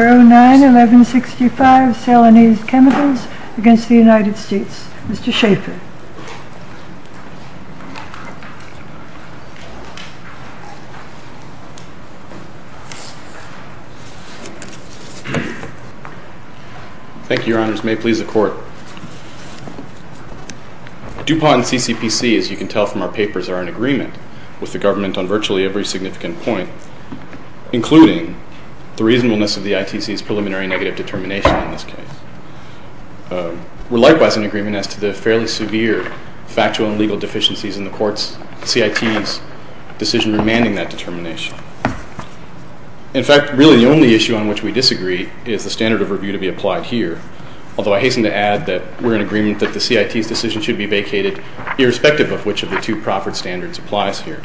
Mr. Schaffer. Thank you, Your Honors. May it please the Court. DuPont and CCPC, as you can tell from our papers, are in agreement with the government on virtually every significant point, including the reasonableness of the ITC's preliminary negative determination in this case. We're likewise in agreement as to the fairly severe factual and legal deficiencies in the Court's CIT's decision remanding that determination. In fact, really the only issue on which we disagree is the standard of review to be applied here, although I hasten to add that we're in agreement that the CIT's decision should be vacated irrespective of which of the two proffered standards applies here.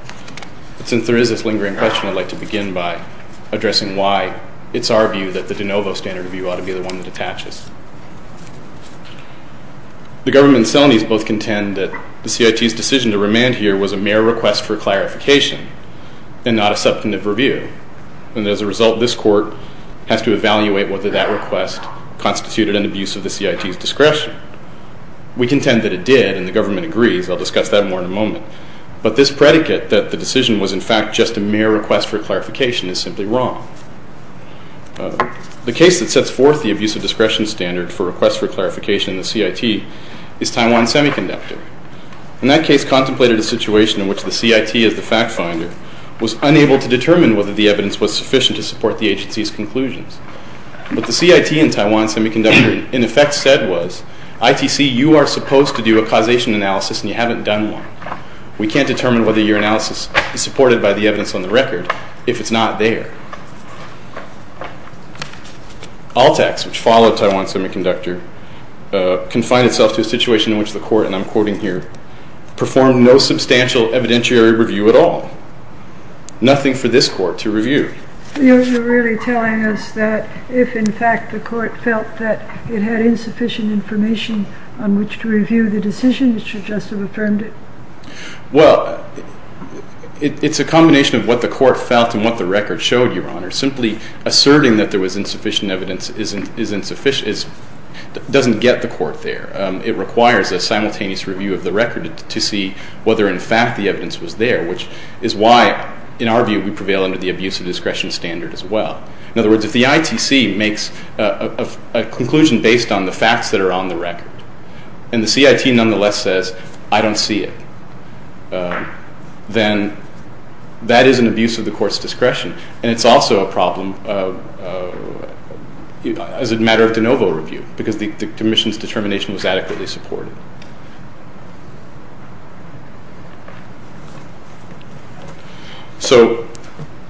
Since there is this lingering question, I'd like to begin by addressing why it's our view that the de novo standard of review ought to be the one that attaches. The government and Celanese both contend that the CIT's decision to remand here was a mere request for clarification and not a substantive review. And as a result, this Court has to evaluate whether that request constituted an abuse of the CIT's discretion. We contend that it did, and the government agrees. I'll discuss that more in a moment. But this predicate that the decision was in fact just a mere request for clarification is simply wrong. The case that sets forth the abuse of discretion standard for request for clarification in the CIT is Taiwan Semiconductor. In that case contemplated a situation in which the CIT as the fact finder was unable to determine whether the evidence was sufficient to support the agency's conclusions. What the CIT and Taiwan Semiconductor in effect said was, ITC, you are supposed to do a causation analysis and you haven't done one. We can't determine whether your analysis is supported by the evidence on the record if it's not there. All tax, which followed Taiwan Semiconductor, confined itself to a situation in which the Court, and I'm quoting here, performed no substantial evidentiary review at all. Nothing for this Court to review. You're really telling us that if in fact the Court felt that it had insufficient information on which to review the decision, it should just have affirmed it? Well, it's a combination of what the Court felt and what the record showed, Your Honor. Simply asserting that there was insufficient evidence doesn't get the Court there. It requires a simultaneous review of the record to see whether in fact the evidence was there, which is why, in our view, we prevail under the abuse of discretion standard as well. In other words, if the ITC makes a conclusion based on the facts that are on the record and the CIT nonetheless says, I don't see it, then that is an abuse of the Court's discretion and it's also a problem as a matter of de novo review because the Commission's determination was adequately supported. So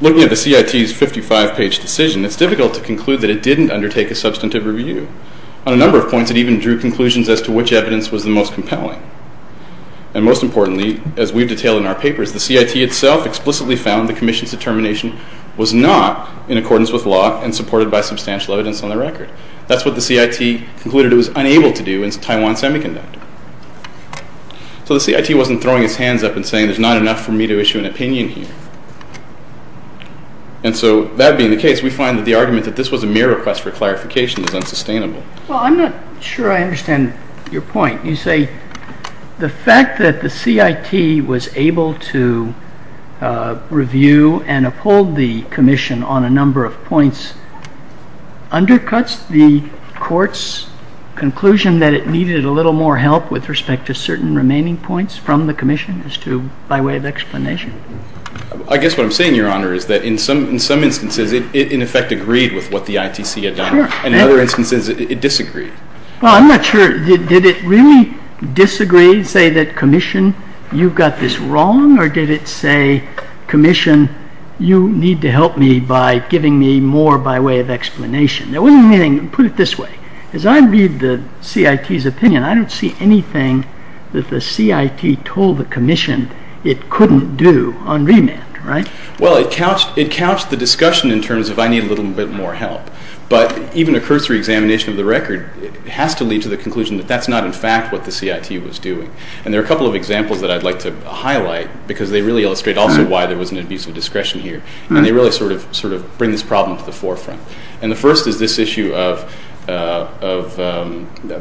looking at the CIT's 55-page decision, it's difficult to conclude that it didn't undertake a substantive review. On a number of points, it even drew conclusions as to which evidence was the most compelling. And most importantly, as we've detailed in our papers, the CIT itself explicitly found the Commission's determination was not in accordance with law and supported by substantial evidence on the record. That's what the CIT concluded it was unable to do in Taiwan Semiconductor. So the CIT wasn't throwing its hands up and saying there's not enough for me to issue an opinion here. And so that being the case, we find that the argument that this was a mere request for clarification is unsustainable. Well, I'm not sure I understand your point. You say the fact that the CIT was able to issue an opinion. I don't see anything that the CIT told the Commission it couldn't do on remand, right? Well, it couched the discussion in terms of I need a little bit more help. But even a cursory examination of the record has to lead to the conclusion that that's not in fact what the CIT was doing. And there are a couple of examples that I'd like to highlight because they really illustrate also why there was an abuse of discretion here. And they really sort of bring this problem to the forefront. And the first is this issue of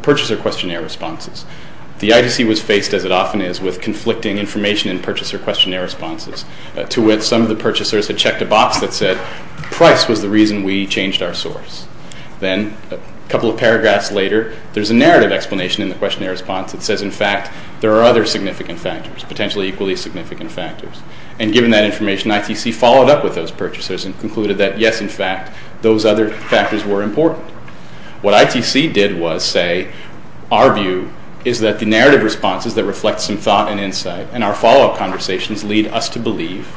purchaser questionnaire responses. The ITC was faced, as it often is, with conflicting information in purchaser questionnaire responses to which some of the purchasers had checked a box that said price was the reason we changed our source. Then a couple of paragraphs later, there's a narrative explanation in the questionnaire response that says, in fact, there are other significant factors, potentially equally significant factors. And given that information, ITC followed up with those purchasers and concluded that, yes, in fact, those other factors were important. What ITC did was say, our view is that the narrative responses that reflect some thought and insight and our follow-up conversations lead us to believe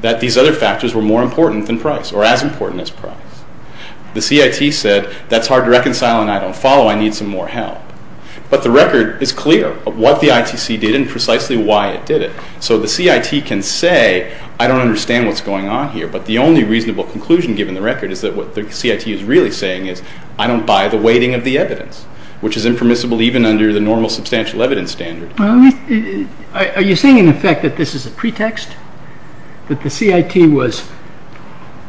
that these other factors were more important than price or as important as price. The CIT said, that's hard to reconcile and I don't follow. I need some more help. But the record is clear of what the ITC did and precisely why it did it. So the CIT can say, I don't understand what's going on here, but the only reasonable conclusion given the record is that what the CIT is really saying is I don't buy the weighting of the evidence, which is impermissible even under the normal substantial evidence standard. Are you saying, in effect, that this is a pretext? That the CIT was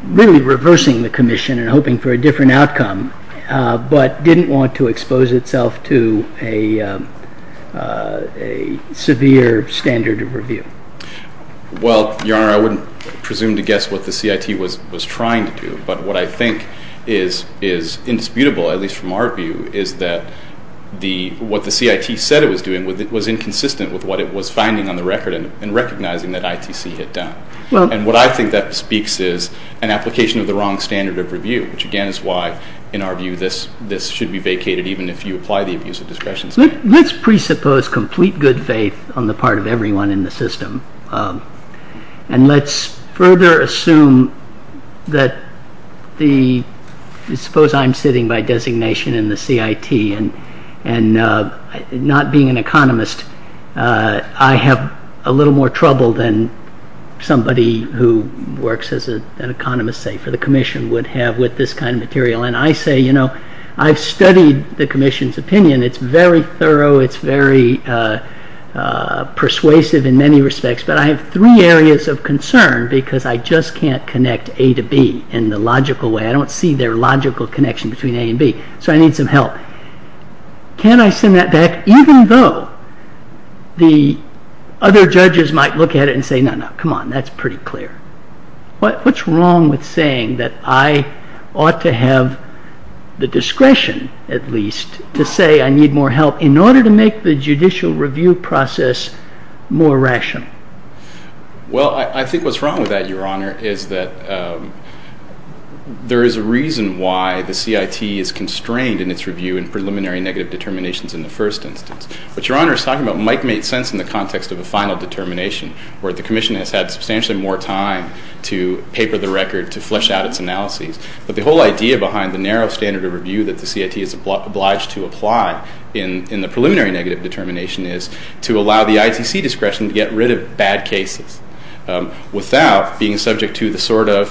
really reversing the commission and hoping for a different outcome, but didn't want to expose itself to a severe standard of review? Well, Your Honor, I wouldn't presume to guess what the CIT was trying to do, but what I think is indisputable, at least from our view, is that what the CIT said it was doing was inconsistent with what it was finding on the record and recognizing that ITC had done. And what I think that speaks is an application of the wrong standard of review, which again is why, in our view, this should be vacated even if you apply the abuse of discretion. Let's presuppose complete good faith on the part of everyone in the system. And let's further assume that the, suppose I'm sitting by designation in the CIT and not being an economist, I have a little more trouble than somebody who works as an economist, say, for the commission would have with this kind of material. And I say, you know, I've studied the commission's opinion. It's very thorough. It's very persuasive in many respects. But I have three areas of concern because I just can't connect A to B in the logical way. I don't see their logical connection between A and B. So I need some help. Can I send that back even though the other judges might look at it and say, no, no, come on, that's pretty clear. What's wrong with saying that I ought to have the discretion, at least, to say I need more help in order to make the judicial review process more rational? Well I think what's wrong with that, Your Honor, is that there is a reason why the CIT is constrained in its review in preliminary negative determinations in the first instance. But Your Honor is talking about Mike made sense in the context of a final determination where the commission has had substantially more time to paper the record, to flesh out its analyses. But the whole idea behind the narrow standard of review that the CIT is obliged to apply in the preliminary negative determination is to allow the ITC discretion to get rid of bad cases without being subject to the sort of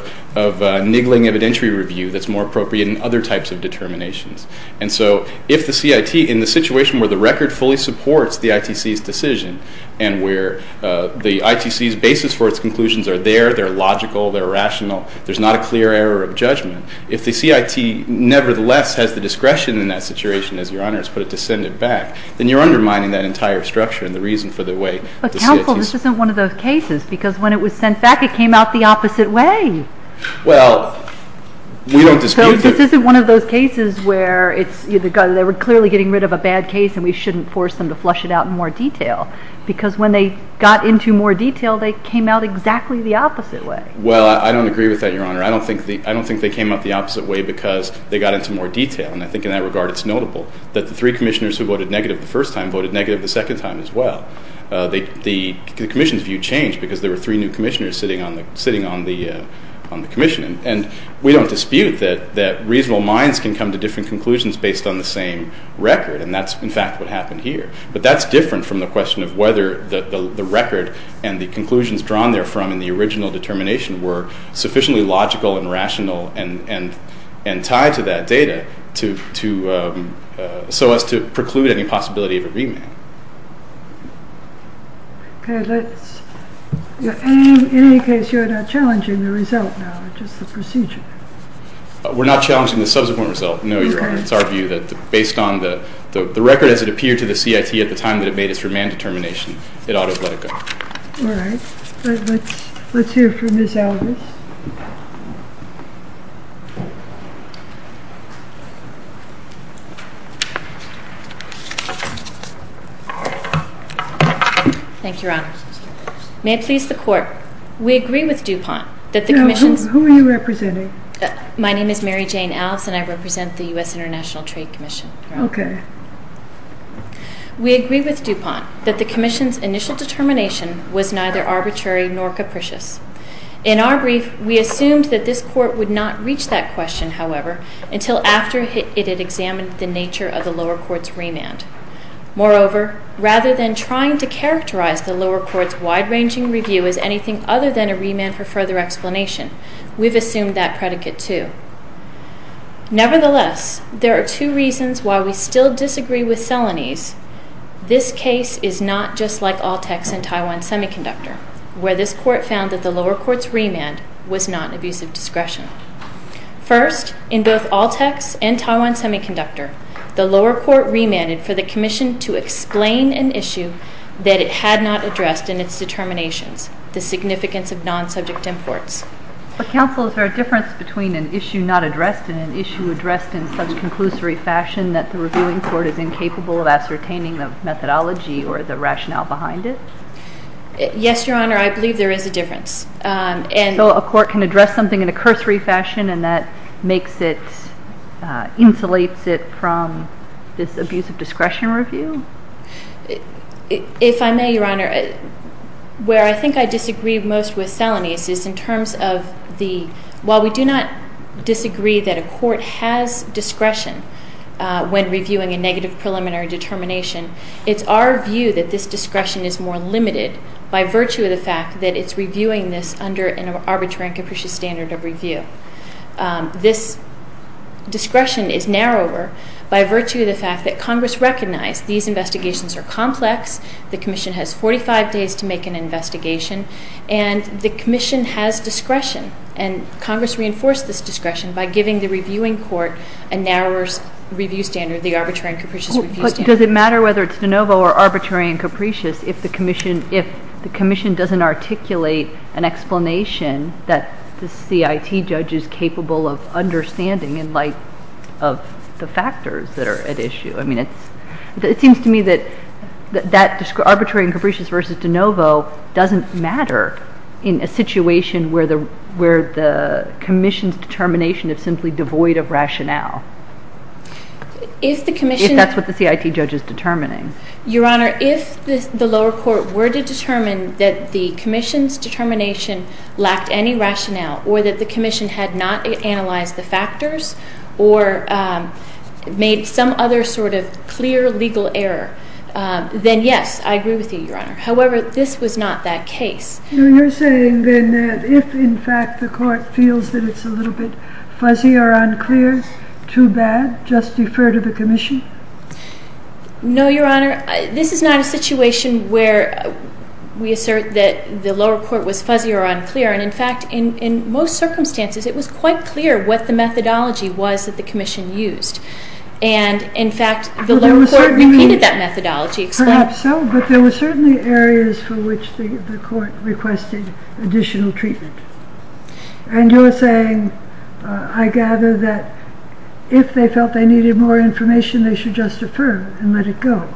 niggling evidentiary review that's more appropriate in other types of determinations. And so if the CIT in the situation where the record fully supports the ITC's decision and where the ITC's basis for its conclusions are there, they're logical, they're rational, there's not a clear error of judgment, if the CIT nevertheless has the discretion in that situation, as Your Honor has put it, to send it back, then you're undermining that entire structure and the reason for the way the CIT's— But Counsel, this isn't one of those cases because when it was sent back it came out the opposite way. Well, we don't dispute that— Well, I don't agree with that, Your Honor. I don't think they came out the opposite way because they got into more detail. And I think in that regard it's notable that the three commissioners who voted negative the first time voted negative the second time as well. The commission's view changed because there were three new commissioners sitting on the commission. And we don't dispute that reasonable minds can come to different conclusions based on the same record. And that's, in fact, what happened here. But that's different from the question of whether the record and the conclusions drawn therefrom in the original determination were sufficiently logical and rational and tied to that data so as to preclude any possibility of a remand. Okay, let's—in any case, you're not challenging the result now, just the procedure. We're not challenging the subsequent result, no, Your Honor. It's our view that based on the record as it appeared to the CIT at the time that it made its remand determination, it ought to have let it go. All right. Let's hear from Ms. Aldous. Thank you, Your Honor. May it please the Court, we agree with DuPont that the commission— Who are you representing? My name is Mary Jane Aldous, and I represent the U.S. International Trade Commission. Okay. We agree with DuPont that the commission's initial determination was neither arbitrary nor capricious. In our brief, we assumed that this Court would not reach that question, however, until after it had examined the nature of the lower court's remand. Moreover, rather than trying to characterize the lower court's wide-ranging review as anything other than a remand for further explanation, we've assumed that predicate, too. Nevertheless, there are two reasons why we still disagree with Selanese. This case is not just like Altec's in Taiwan Semiconductor, where this Court found that the lower court's remand was not an abuse of discretion. First, in both Altec's and Taiwan Semiconductor, the lower court remanded for the commission to explain an issue that it had not addressed in its determinations, the significance of non-subject imports. But, Counsel, is there a difference between an issue not addressed and an issue addressed in such conclusory fashion that the reviewing court is incapable of ascertaining the methodology or the rationale behind it? Yes, Your Honor, I believe there is a difference, and So a court can address something in a cursory fashion, and that makes it, insulates it from this abuse of discretion review? If I may, Your Honor, where I think I disagree most with Selanese is in terms of the, while we do not disagree that a court has discretion when reviewing a negative preliminary determination, it's our view that this discretion is more limited by virtue of the fact that it's reviewing this under an arbitrary and capricious standard of review. This discretion is narrower by The commission has 45 days to make an investigation, and the commission has discretion, and Congress reinforced this discretion by giving the reviewing court a narrower review standard, the arbitrary and capricious review standard. But does it matter whether it's de novo or arbitrary and capricious if the commission doesn't articulate an explanation that the CIT judge is capable of understanding in light of the factors that are at issue? I mean, it seems to me that that arbitrary and capricious versus de novo doesn't matter in a situation where the commission's determination is simply devoid of rationale. If the commission If that's what the CIT judge is determining. Your Honor, if the lower court were to determine that the commission's determination lacked any rationale or that the commission had not analyzed the factors or made some other sort of clear legal error, then yes, I agree with you, Your Honor. However, this was not that case. You're saying then that if, in fact, the court feels that it's a little bit fuzzy or unclear, too bad, just defer to the commission? No, Your Honor. This is not a situation where we assert that the lower court was fuzzy or unclear. In fact, in most circumstances, it was quite clear what the methodology was that the commission used. And, in fact, the lower court repeated that methodology. Perhaps so, but there were certainly areas for which the court requested additional treatment. And you're saying, I gather, that if they felt they needed more information, they should just defer and let it go.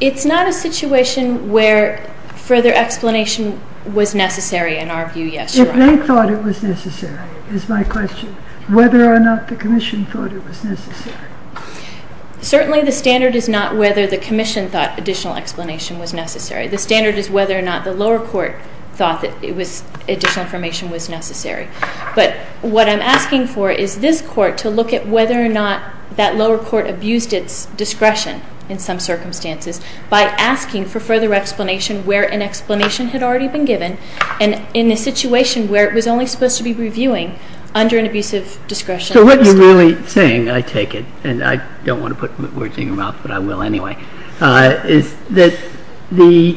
It's not a situation where further explanation was necessary, in our view, yes, Your Honor. If they thought it was necessary is my question. Whether or not the commission thought it was necessary. Certainly, the standard is not whether the commission thought additional explanation was necessary. The standard is whether or not the lower court thought that it was additional information was necessary. But what I'm asking for is this court to look at whether or not that lower court abused its discretion, in some circumstances, by asking for further explanation where an explanation had already been given and in a situation where it was only supposed to be reviewing under an abusive discretion. So what you're really saying, I take it, and I don't want to put words in your mouth, but I will anyway, is that the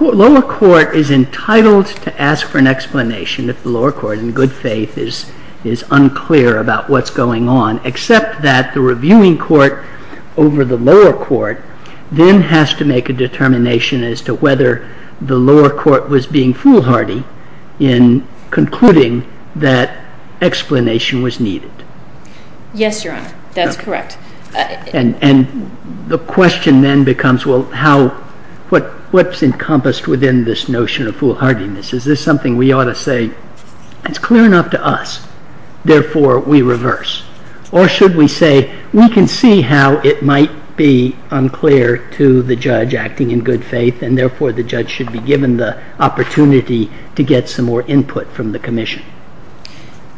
lower court is entitled to ask for an explanation if the lower court, in good faith, is unclear about what's going on, except that the reviewing court over the lower court then has to make a determination as to whether the lower court was being foolhardy in concluding that explanation was needed. Yes, Your Honor. That's correct. And the question then becomes, well, what's encompassed within this notion of foolhardiness? Is this something we ought to say, it's clear enough to us, therefore we reverse? Or should we say, we can see how it might be unclear to the judge acting in good faith and therefore the judge should be given the opportunity to get some more input from the commission?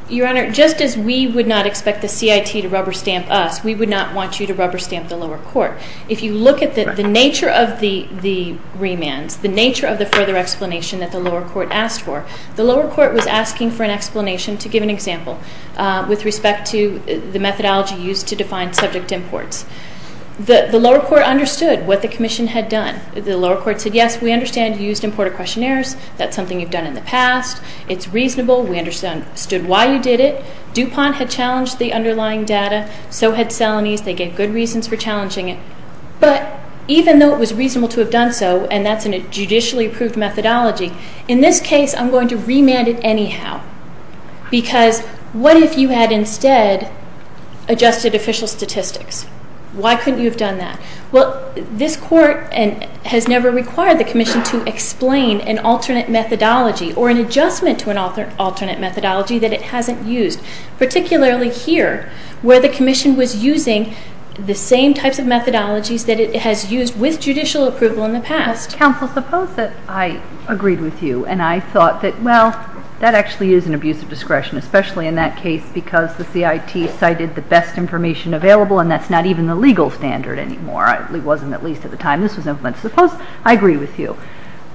Your Honor, just as we would not expect the CIT to rubber stamp us, we would not want you to rubber stamp the lower court. If you look at the nature of the remands, the nature of the further explanation that the lower court asked for, the lower court was asking for an explanation, to give an example, with respect to the methodology used to define subject imports. The lower court understood what the commission had done. The lower court said, yes, we understand you used importer questionnaires. That's something you've done in the past. It's reasonable. We understood why you did it. DuPont had challenged the underlying data. So had Salonies. They gave good reasons for challenging it. But even though it was reasonable to have done so, and that's in a judicially approved methodology, in this case I'm going to remand it anyhow. Because what if you had instead adjusted official statistics? Why couldn't you have done that? Well, this court has never required the commission to explain an alternate methodology or an adjustment to an alternate methodology that it hasn't used. Particularly here, where the commission was using the same types of methodologies that it has used with judicial approval in the past. Counsel, suppose that I agreed with you, and I thought that, well, that actually is an abuse of discretion, especially in that case because the CIT cited the best information available, and that's not even the legal standard anymore. It wasn't at least at the time this was implemented. Suppose I agree with you,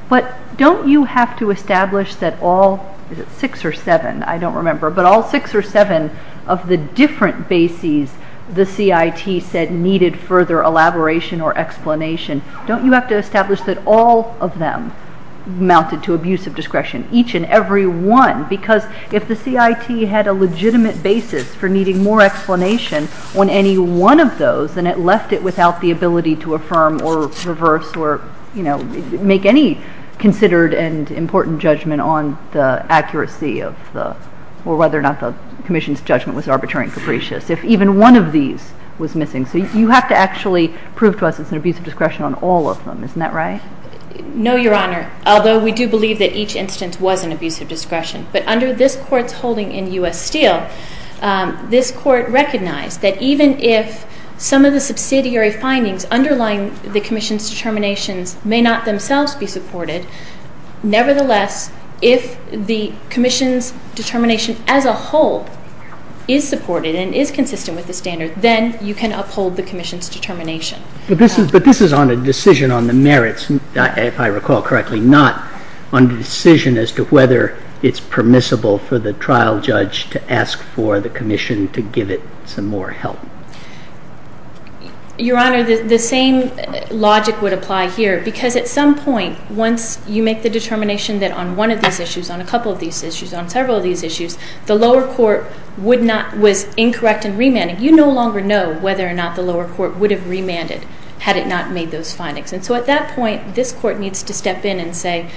but don't you have to establish that all, is it six or seven? I don't remember, but all six or seven of the different bases the CIT said needed further elaboration or explanation, don't you have to establish that all of them amounted to abuse of discretion, each and every one? Because if the CIT had a legitimate basis for needing more explanation on any one of those, then it left it without the ability to affirm or reverse or make any considered and important judgment on the accuracy of the, or whether or not the commission's judgment was arbitrary and capricious, if even one of these was missing. So you have to actually prove to us it's an abuse of discretion on all of them. Isn't that right? No, Your Honor, although we do believe that each instance was an abuse of discretion. But under this Court's holding in U.S. Steel, this Court recognized that even if some of the subsidiary findings underlying the commission's determinations may not themselves be supported, nevertheless, if the commission's determination as a whole is supported and is consistent with the standard, then you can uphold the commission's determination. But this is on a decision on the merits, if I recall correctly, not on the decision as to whether it's permissible for the trial judge to ask for the commission to give it some more help. Your Honor, the same logic would apply here. Because at some point, once you make the determination that on one of these issues, on a couple of these issues, on several of these issues, the lower court would not, was incorrect in remanding, you no longer know whether or not the lower court would have remanded had it not made those findings. And so at that point, this Court needs to step in and say,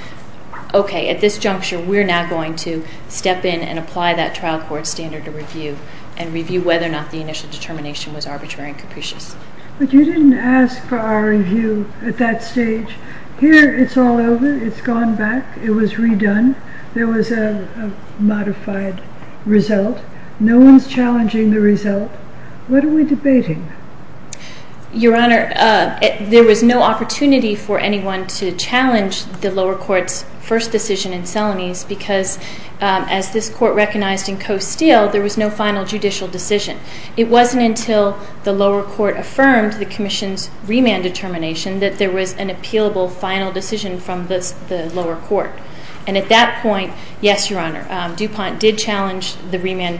okay, at this juncture, we're now going to step in and apply that trial court standard to review and review whether or not the initial determination was arbitrary and capricious. But you didn't ask for our review at that stage. Here, it's all over. It's gone back. It was redone. There was a modified result. No one's challenging the result. What are we debating? Your Honor, there was no opportunity for anyone to challenge the lower court's first decision because as this Court recognized in Costile, there was no final judicial decision. It wasn't until the lower court affirmed the Commission's remand determination that there was an appealable final decision from the lower court. And at that point, yes, Your Honor, DuPont did challenge the remand,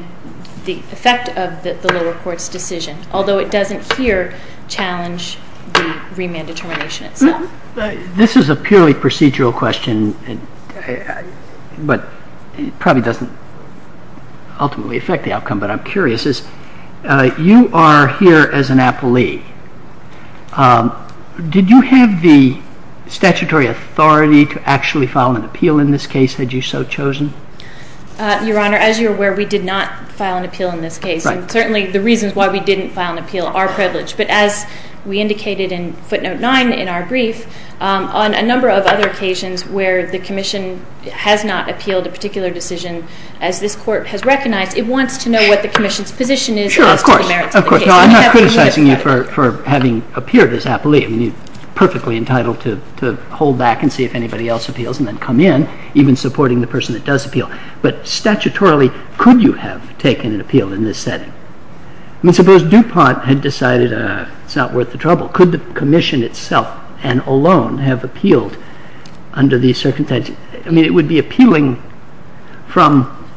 the effect of the lower court's decision, although it doesn't here challenge the remand determination itself. This is a purely procedural question, but it probably doesn't ultimately affect the outcome, but I'm curious. You are here as an appellee. Did you have the statutory authority to actually file an appeal in this case, had you so chosen? Your Honor, as you're aware, we did not file an appeal in this case, and certainly the reasons why we didn't file an appeal are privileged. But as we indicated in footnote 9 in our brief, on a number of other occasions where the Commission has not appealed a particular decision, as this Court has recognized, it wants to know what the Commission's position is as to the merits of the case. Sure, of course. No, I'm not criticizing you for having appeared as appellee. I mean, you're perfectly entitled to hold back and see if anybody else appeals and then come in, even supporting the person that does appeal. But statutorily, could you have taken an appeal in this setting? I mean, suppose DuPont had decided it's not worth the trouble. Could the Commission itself and alone have appealed under these circumstances? I mean, it would be appealing from,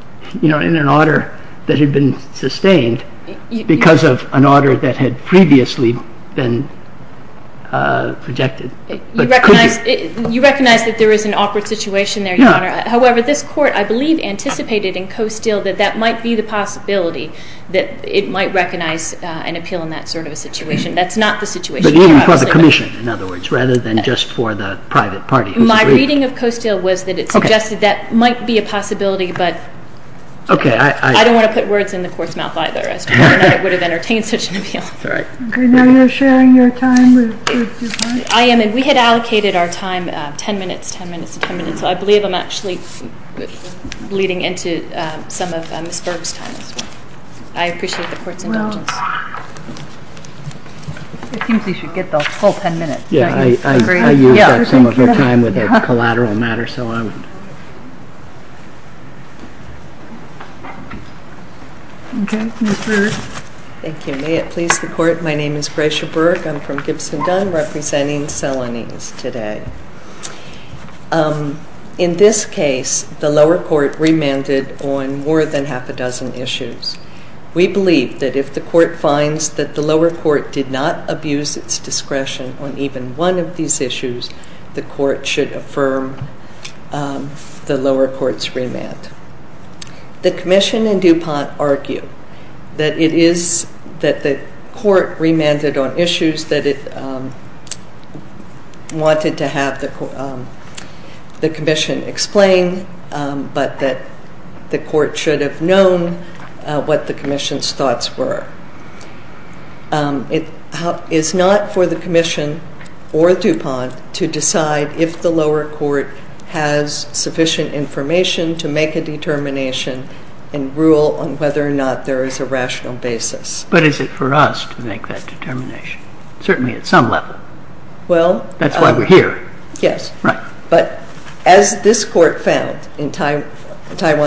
you know, in an order that had been sustained because of an order that had previously been rejected. You recognize that there is an awkward situation there, Your Honor. However, this Court, I believe, anticipated in Costile that that might be the possibility, that it might recognize an appeal in that sort of a situation. That's not the situation. But even for the Commission, in other words, rather than just for the private party. My reading of Costile was that it suggested that might be a possibility, but I don't want to put words in the Court's mouth either, as to whether or not it would have entertained such an appeal. All right. Okay. Now you're sharing your time with DuPont? I am, and we had allocated our time, 10 minutes, 10 minutes, 10 minutes. So I believe I'm actually bleeding into some of Ms. Berg's time as well. I appreciate the Court's indulgence. Well, it seems we should get the whole 10 minutes. Yeah, I used up some of her time with a collateral matter, so I'm. Okay. Ms. Berg. Thank you. May it please the Court, my name is Gratia Berg. I'm from Gibson-Dunn representing Salonese today. In this case, the lower court remanded on more than half a dozen issues. We believe that if the Court finds that the lower court did not abuse its discretion on even one of these issues, the Court should affirm the lower court's remand. The Commission and DuPont argue that it is that the Court remanded on issues that it wanted to have the Commission explain, but that the Court should have known what the Commission's thoughts were. It is not for the Commission or DuPont to decide if the lower court has sufficient information to make a determination and rule on whether or not there is a rational basis. But is it for us to make that determination? Certainly at some level. Well. That's why we're here. Yes. Right. But as this Court found in Taiwan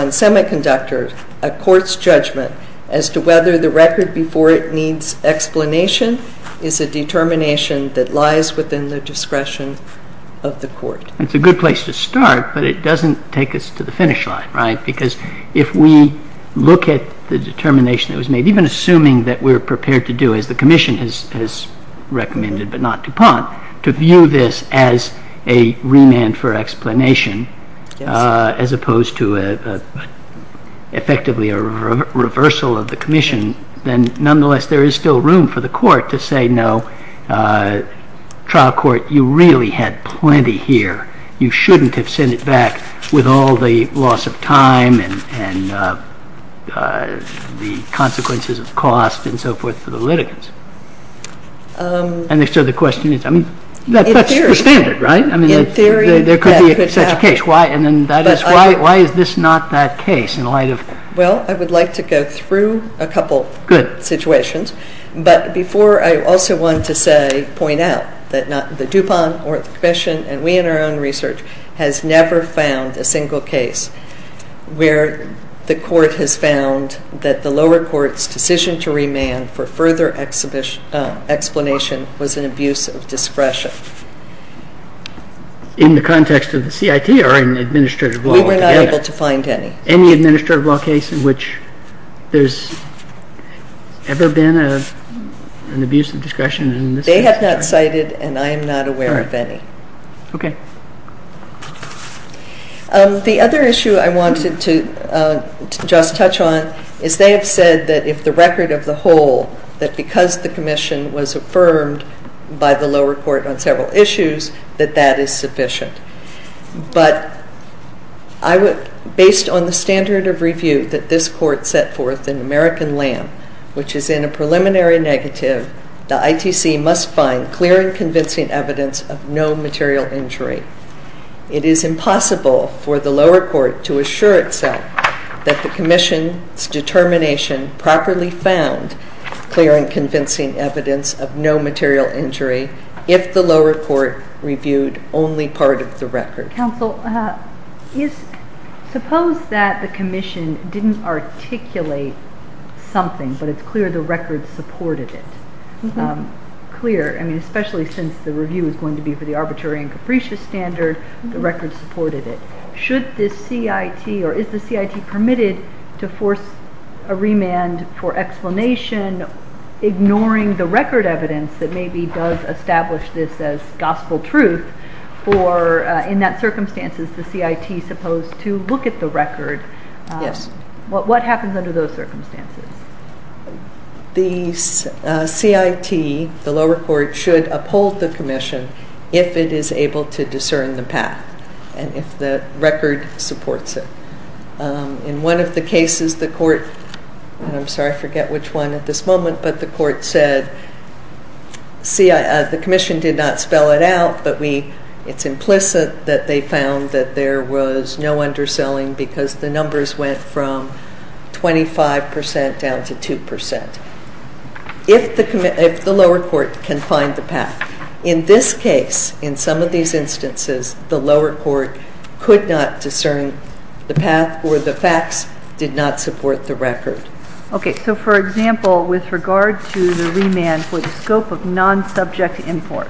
Semiconductor, a Court's judgment as to whether the record before it needs explanation is a determination that lies within the discretion of the Court. It's a good place to start, but it doesn't take us to the finish line, right? Because if we look at the determination that was made, even assuming that we're prepared to do as the Commission has recommended, but not DuPont, to view this as a remand for explanation as opposed to effectively a reversal of the Commission, then nonetheless there is still room for the Court to say, no, trial court, you really had plenty here. You shouldn't have sent it back with all the loss of time and the consequences of cost and so forth for the litigants. And so the question is, I mean, that's the standard, right? In theory, that could happen. There could be such a case. Why is this not that case in light of? Well, I would like to go through a couple situations. Good. But before, I also want to say, point out that the DuPont or the Commission and we in our own research has never found a single case where the Court has found that the lower court's decision to remand for further explanation was an abuse of discretion. In the context of the CIT or in the administrative law? We were not able to find any. Any administrative law case in which there's ever been an abuse of discretion? They have not cited, and I am not aware of any. Okay. The other issue I wanted to just touch on is they have said that if the record of the whole, that because the Commission was affirmed by the lower court on several issues, that that is sufficient. But based on the standard of review that this court set forth in American Lamb, which is in a preliminary negative, the ITC must find clear and convincing evidence of no material injury. It is impossible for the lower court to assure itself that the Commission's determination properly found clear and convincing evidence of no material injury if the lower court reviewed only part of the record. Counsel, suppose that the Commission didn't articulate something, but it's clear the record supported it. Clear, I mean, especially since the review is going to be for the arbitrary and capricious standard, the record supported it. Should the CIT or is the CIT permitted to force a remand for explanation, ignoring the record evidence that maybe does establish this as gospel truth, or in that circumstance is the CIT supposed to look at the record? Yes. What happens under those circumstances? The CIT, the lower court, should uphold the Commission if it is able to discern the path. And if the record supports it. In one of the cases the court, and I'm sorry, I forget which one at this moment, but the court said, see, the Commission did not spell it out, but it's implicit that they found that there was no underselling because the numbers went from 25% down to 2%. If the lower court can find the path. In this case, in some of these instances, the lower court could not discern the path or the facts did not support the record. Okay. So, for example, with regard to the remand for the scope of non-subject imports,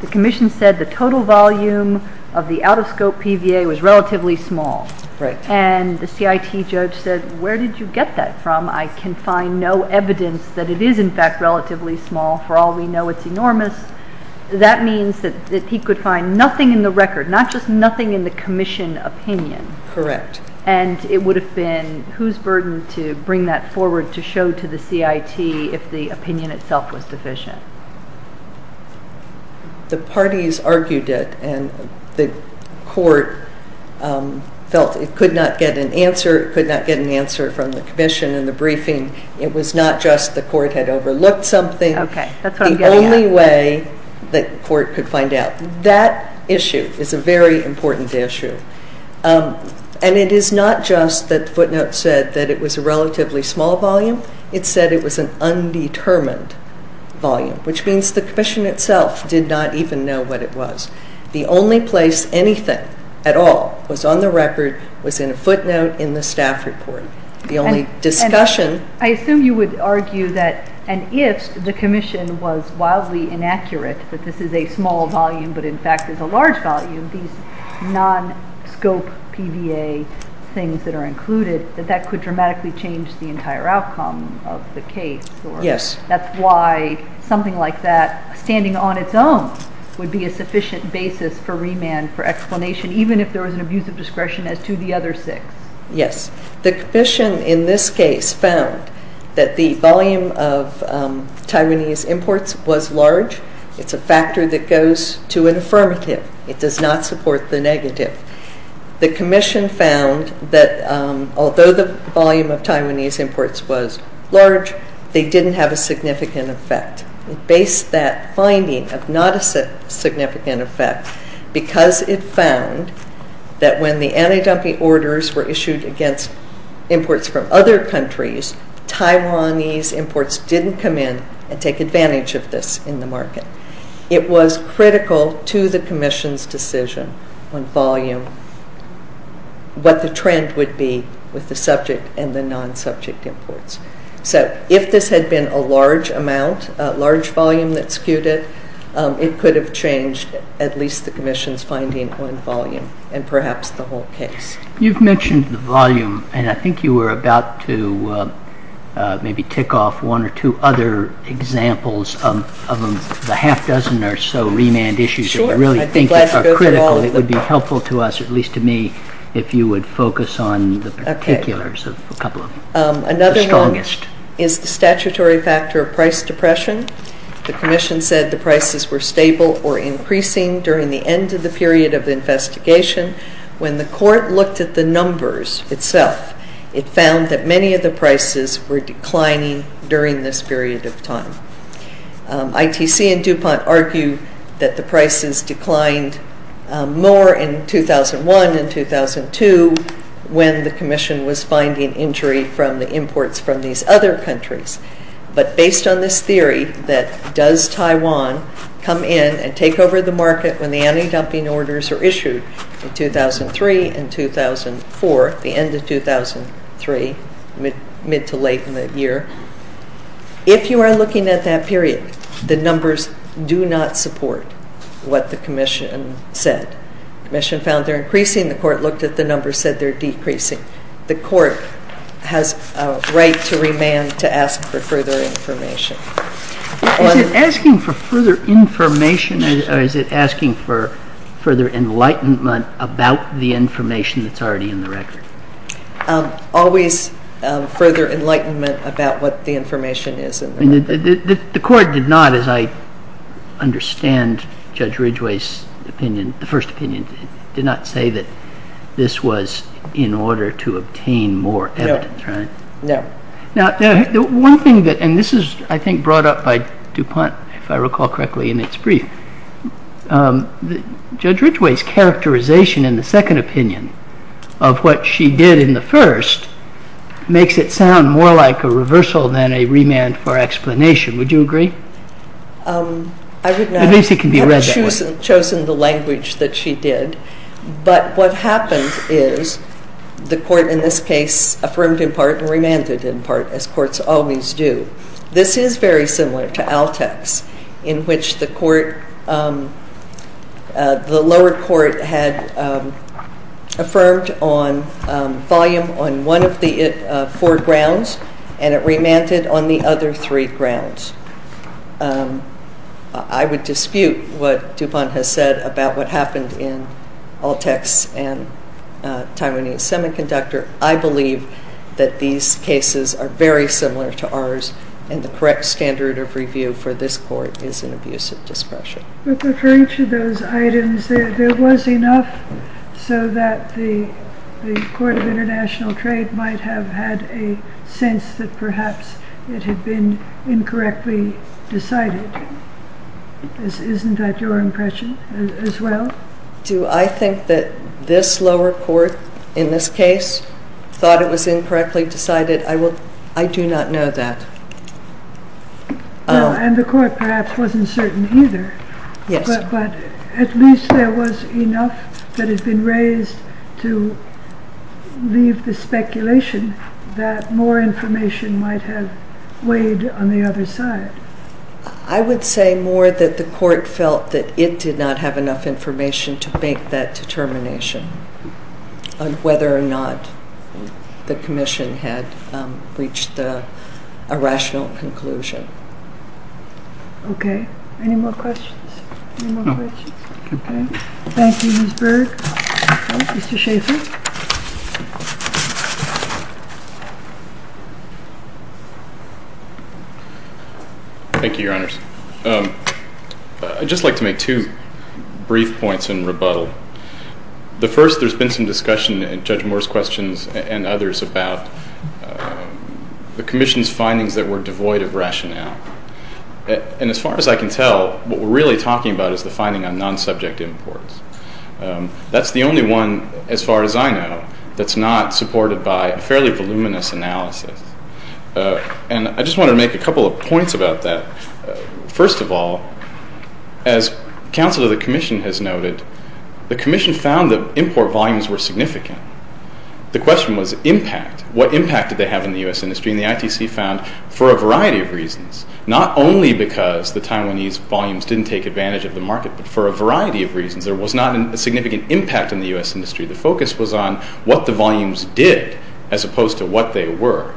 the Commission said the total volume of the out-of-scope PVA was relatively small. Right. And the CIT judge said, where did you get that from? I can find no evidence that it is, in fact, relatively small. For all we know, it's enormous. That means that he could find nothing in the record, not just nothing in the Commission opinion. Correct. And it would have been whose burden to bring that forward to show to the CIT if the opinion itself was deficient? The parties argued it, and the court felt it could not get an answer. It could not get an answer from the Commission in the briefing. It was not just the court had overlooked something. Okay. That's what I'm getting at. The only way the court could find out. That issue is a very important issue, and it is not just that the footnote said that it was a relatively small volume. It said it was an undetermined volume, which means the Commission itself did not even know what it was. The only place anything at all was on the record was in a footnote in the staff report. I assume you would argue that if the Commission was wildly inaccurate that this is a small volume, but in fact there's a large volume, these non-scope PVA things that are included, that that could dramatically change the entire outcome of the case. Yes. That's why something like that, standing on its own, would be a sufficient basis for remand for explanation, even if there was an abuse of discretion as to the other six. Yes. The Commission in this case found that the volume of Taiwanese imports was large. It's a factor that goes to an affirmative. It does not support the negative. The Commission found that although the volume of Taiwanese imports was large, they didn't have a significant effect. It based that finding of not a significant effect because it found that when the anti-dumping orders were issued against imports from other countries, Taiwanese imports didn't come in and take advantage of this in the market. It was critical to the Commission's decision on volume what the trend would be with the subject and the non-subject imports. So if this had been a large amount, a large volume that skewed it, it could have changed at least the Commission's finding on volume and perhaps the whole case. You've mentioned the volume, and I think you were about to maybe tick off one or two other examples of the half dozen or so remand issues. Sure. I'd be glad to go through all of them. It would be helpful to us, at least to me, if you would focus on the particulars of a couple of them. The strongest. Another one is the statutory factor of price depression. The Commission said the prices were stable or increasing during the end of the period of the investigation. When the Court looked at the numbers itself, it found that many of the prices were declining during this period of time. ITC and DuPont argue that the prices declined more in 2001 and 2002 when the Commission was finding injury from the imports from these other countries. But based on this theory that does Taiwan come in and take over the market when the anti-dumping orders are issued in 2003 and 2004, the end of 2003, mid to late in that year, if you are looking at that period, the numbers do not support what the Commission said. The Commission found they're increasing. The Court looked at the numbers, said they're decreasing. The Court has a right to remand to ask for further information. Is it asking for further information or is it asking for further enlightenment about the information that's already in the record? Always further enlightenment about what the information is. The Court did not, as I understand Judge Ridgeway's opinion, the first opinion, did not say that this was in order to obtain more evidence, right? No. Now, the one thing that, and this is, I think, brought up by DuPont, if I recall correctly, in its brief. Judge Ridgeway's characterization in the second opinion of what she did in the first makes it sound more like a reversal than a remand for explanation. Would you agree? I would not. At least it can be read that way. But what happened is the Court, in this case, affirmed in part and remanded in part, as courts always do. This is very similar to Altex, in which the lower court had affirmed on volume on one of the four grounds and it remanded on the other three grounds. I would dispute what DuPont has said about what happened in Altex and Taiwanese Semiconductor. I believe that these cases are very similar to ours and the correct standard of review for this Court is an abuse of discretion. Referring to those items, there was enough so that the Court of International Trade might have had a sense that perhaps it had been incorrectly decided. Isn't that your impression as well? Do I think that this lower court, in this case, thought it was incorrectly decided? I do not know that. And the Court perhaps wasn't certain either. Yes. But at least there was enough that had been raised to leave the speculation that more information might have weighed on the other side. I would say more that the Court felt that it did not have enough information to make that determination on whether or not the Commission had reached a rational conclusion. Okay. Any more questions? No. Okay. Thank you, Ms. Berg. Mr. Schaffer? Thank you, Your Honors. I'd just like to make two brief points in rebuttal. The first, there's been some discussion in Judge Moore's questions and others about the Commission's findings that were devoid of rationale. And as far as I can tell, what we're really talking about is the finding on non-subject imports. That's the only one, as far as I know, that's not supported by a fairly voluminous analysis. And I just wanted to make a couple of points about that. First of all, as Counsel to the Commission has noted, the Commission found that import volumes were significant. The question was impact. What impact did they have in the U.S. industry? And the ITC found, for a variety of reasons, not only because the Taiwanese volumes didn't take advantage of the market, but for a variety of reasons, there was not a significant impact on the U.S. industry. The focus was on what the volumes did, as opposed to what they were,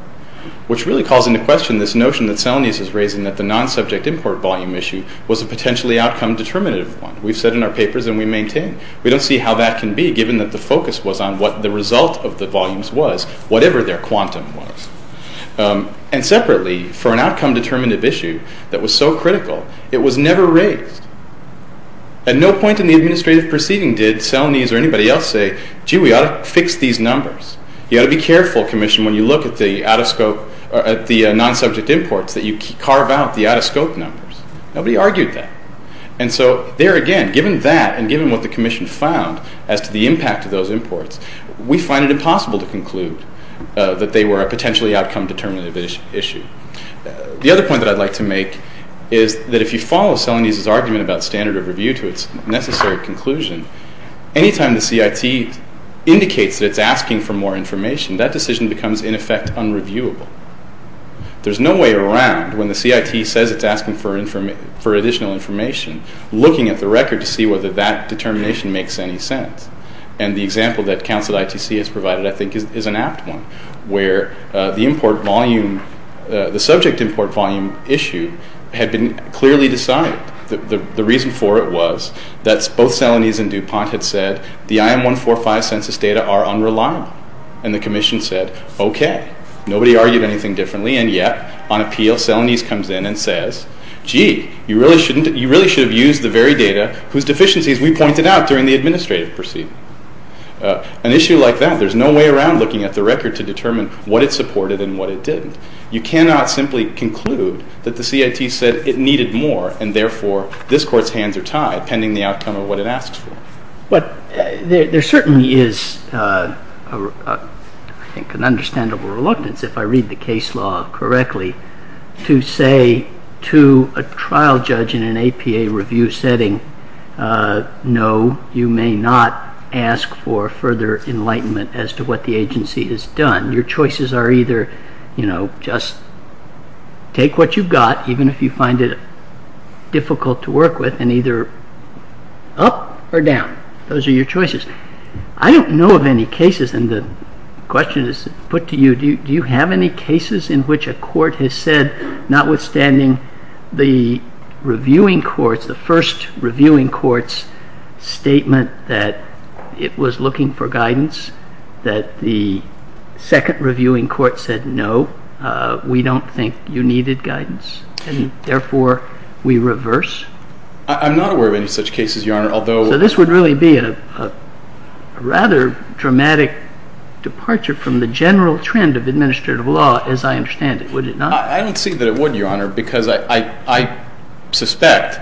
which really calls into question this notion that Celanese is raising that the non-subject import volume issue was a potentially outcome-determinative one. We've said in our papers, and we maintain, we don't see how that can be, given that the focus was on what the result of the volumes was, whatever their quantum was. And separately, for an outcome-determinative issue that was so critical, it was never raised. At no point in the administrative proceeding did Celanese or anybody else say, gee, we ought to fix these numbers. You ought to be careful, Commission, when you look at the non-subject imports, that you carve out the out-of-scope numbers. Nobody argued that. And so there again, given that, and given what the Commission found as to the impact of those imports, we find it impossible to conclude that they were a potentially outcome-determinative issue. The other point that I'd like to make is that if you follow Celanese's argument about standard of review to its necessary conclusion, any time the CIT indicates that it's asking for more information, that decision becomes, in effect, unreviewable. There's no way around, when the CIT says it's asking for additional information, looking at the record to see whether that determination makes any sense. And the example that Council ITC has provided, I think, is an apt one, where the subject import volume issue had been clearly decided. The reason for it was that both Celanese and DuPont had said the IM-145 census data are unreliable. And the Commission said, okay. Nobody argued anything differently, and yet, on appeal, Celanese comes in and says, gee, you really should have used the very data whose deficiencies we pointed out during the administrative proceeding. An issue like that, there's no way around looking at the record to determine what it supported and what it didn't. You cannot simply conclude that the CIT said it needed more, and therefore this Court's hands are tied pending the outcome of what it asks for. But there certainly is, I think, an understandable reluctance, if I read the case law correctly, to say to a trial judge in an APA review setting, no, you may not ask for further enlightenment as to what the agency has done. Your choices are either, you know, just take what you've got, even if you find it difficult to work with, and either up or down. Those are your choices. I don't know of any cases, and the question is put to you, do you have any cases in which a court has said, notwithstanding the reviewing courts, the first reviewing court's statement that it was looking for guidance, that the second reviewing court said, no, we don't think you needed guidance, and therefore we reverse? I'm not aware of any such cases, Your Honor. So this would really be a rather dramatic departure from the general trend of administrative law, as I understand it, would it not? I don't see that it would, Your Honor, because I suspect,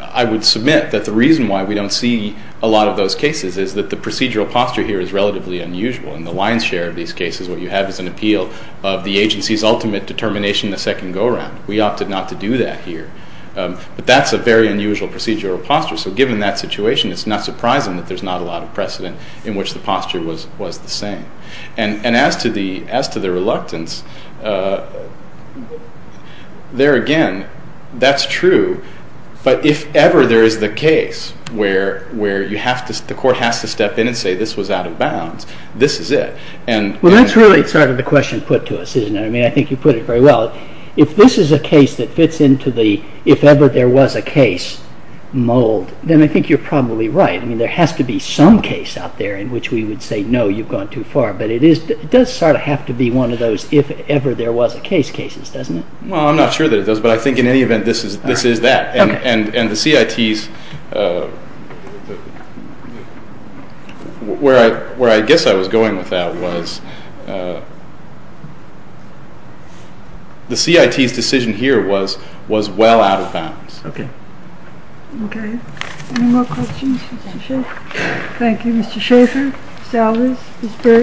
I would submit, that the reason why we don't see a lot of those cases is that the procedural posture here is relatively unusual. In the lion's share of these cases, what you have is an appeal of the agency's ultimate determination in the second go-around. We opted not to do that here. But that's a very unusual procedural posture. So given that situation, it's not surprising that there's not a lot of precedent in which the posture was the same. And as to the reluctance, there again, that's true. But if ever there is the case where the court has to step in and say, this was out of bounds, this is it. Well, that's really sort of the question put to us, isn't it? I mean, I think you put it very well. If this is a case that fits into the if ever there was a case mold, then I think you're probably right. I mean, there has to be some case out there in which we would say, no, you've gone too far. But it does sort of have to be one of those if ever there was a case cases, doesn't it? Well, I'm not sure that it does. But I think in any event, this is that. And the CITs, where I guess I was going with that was the CITs decision here was well out of bounds. OK. OK. Any more questions for Mr. Schaffer? Thank you. Mr. Schaffer, Salvez, Gisbert.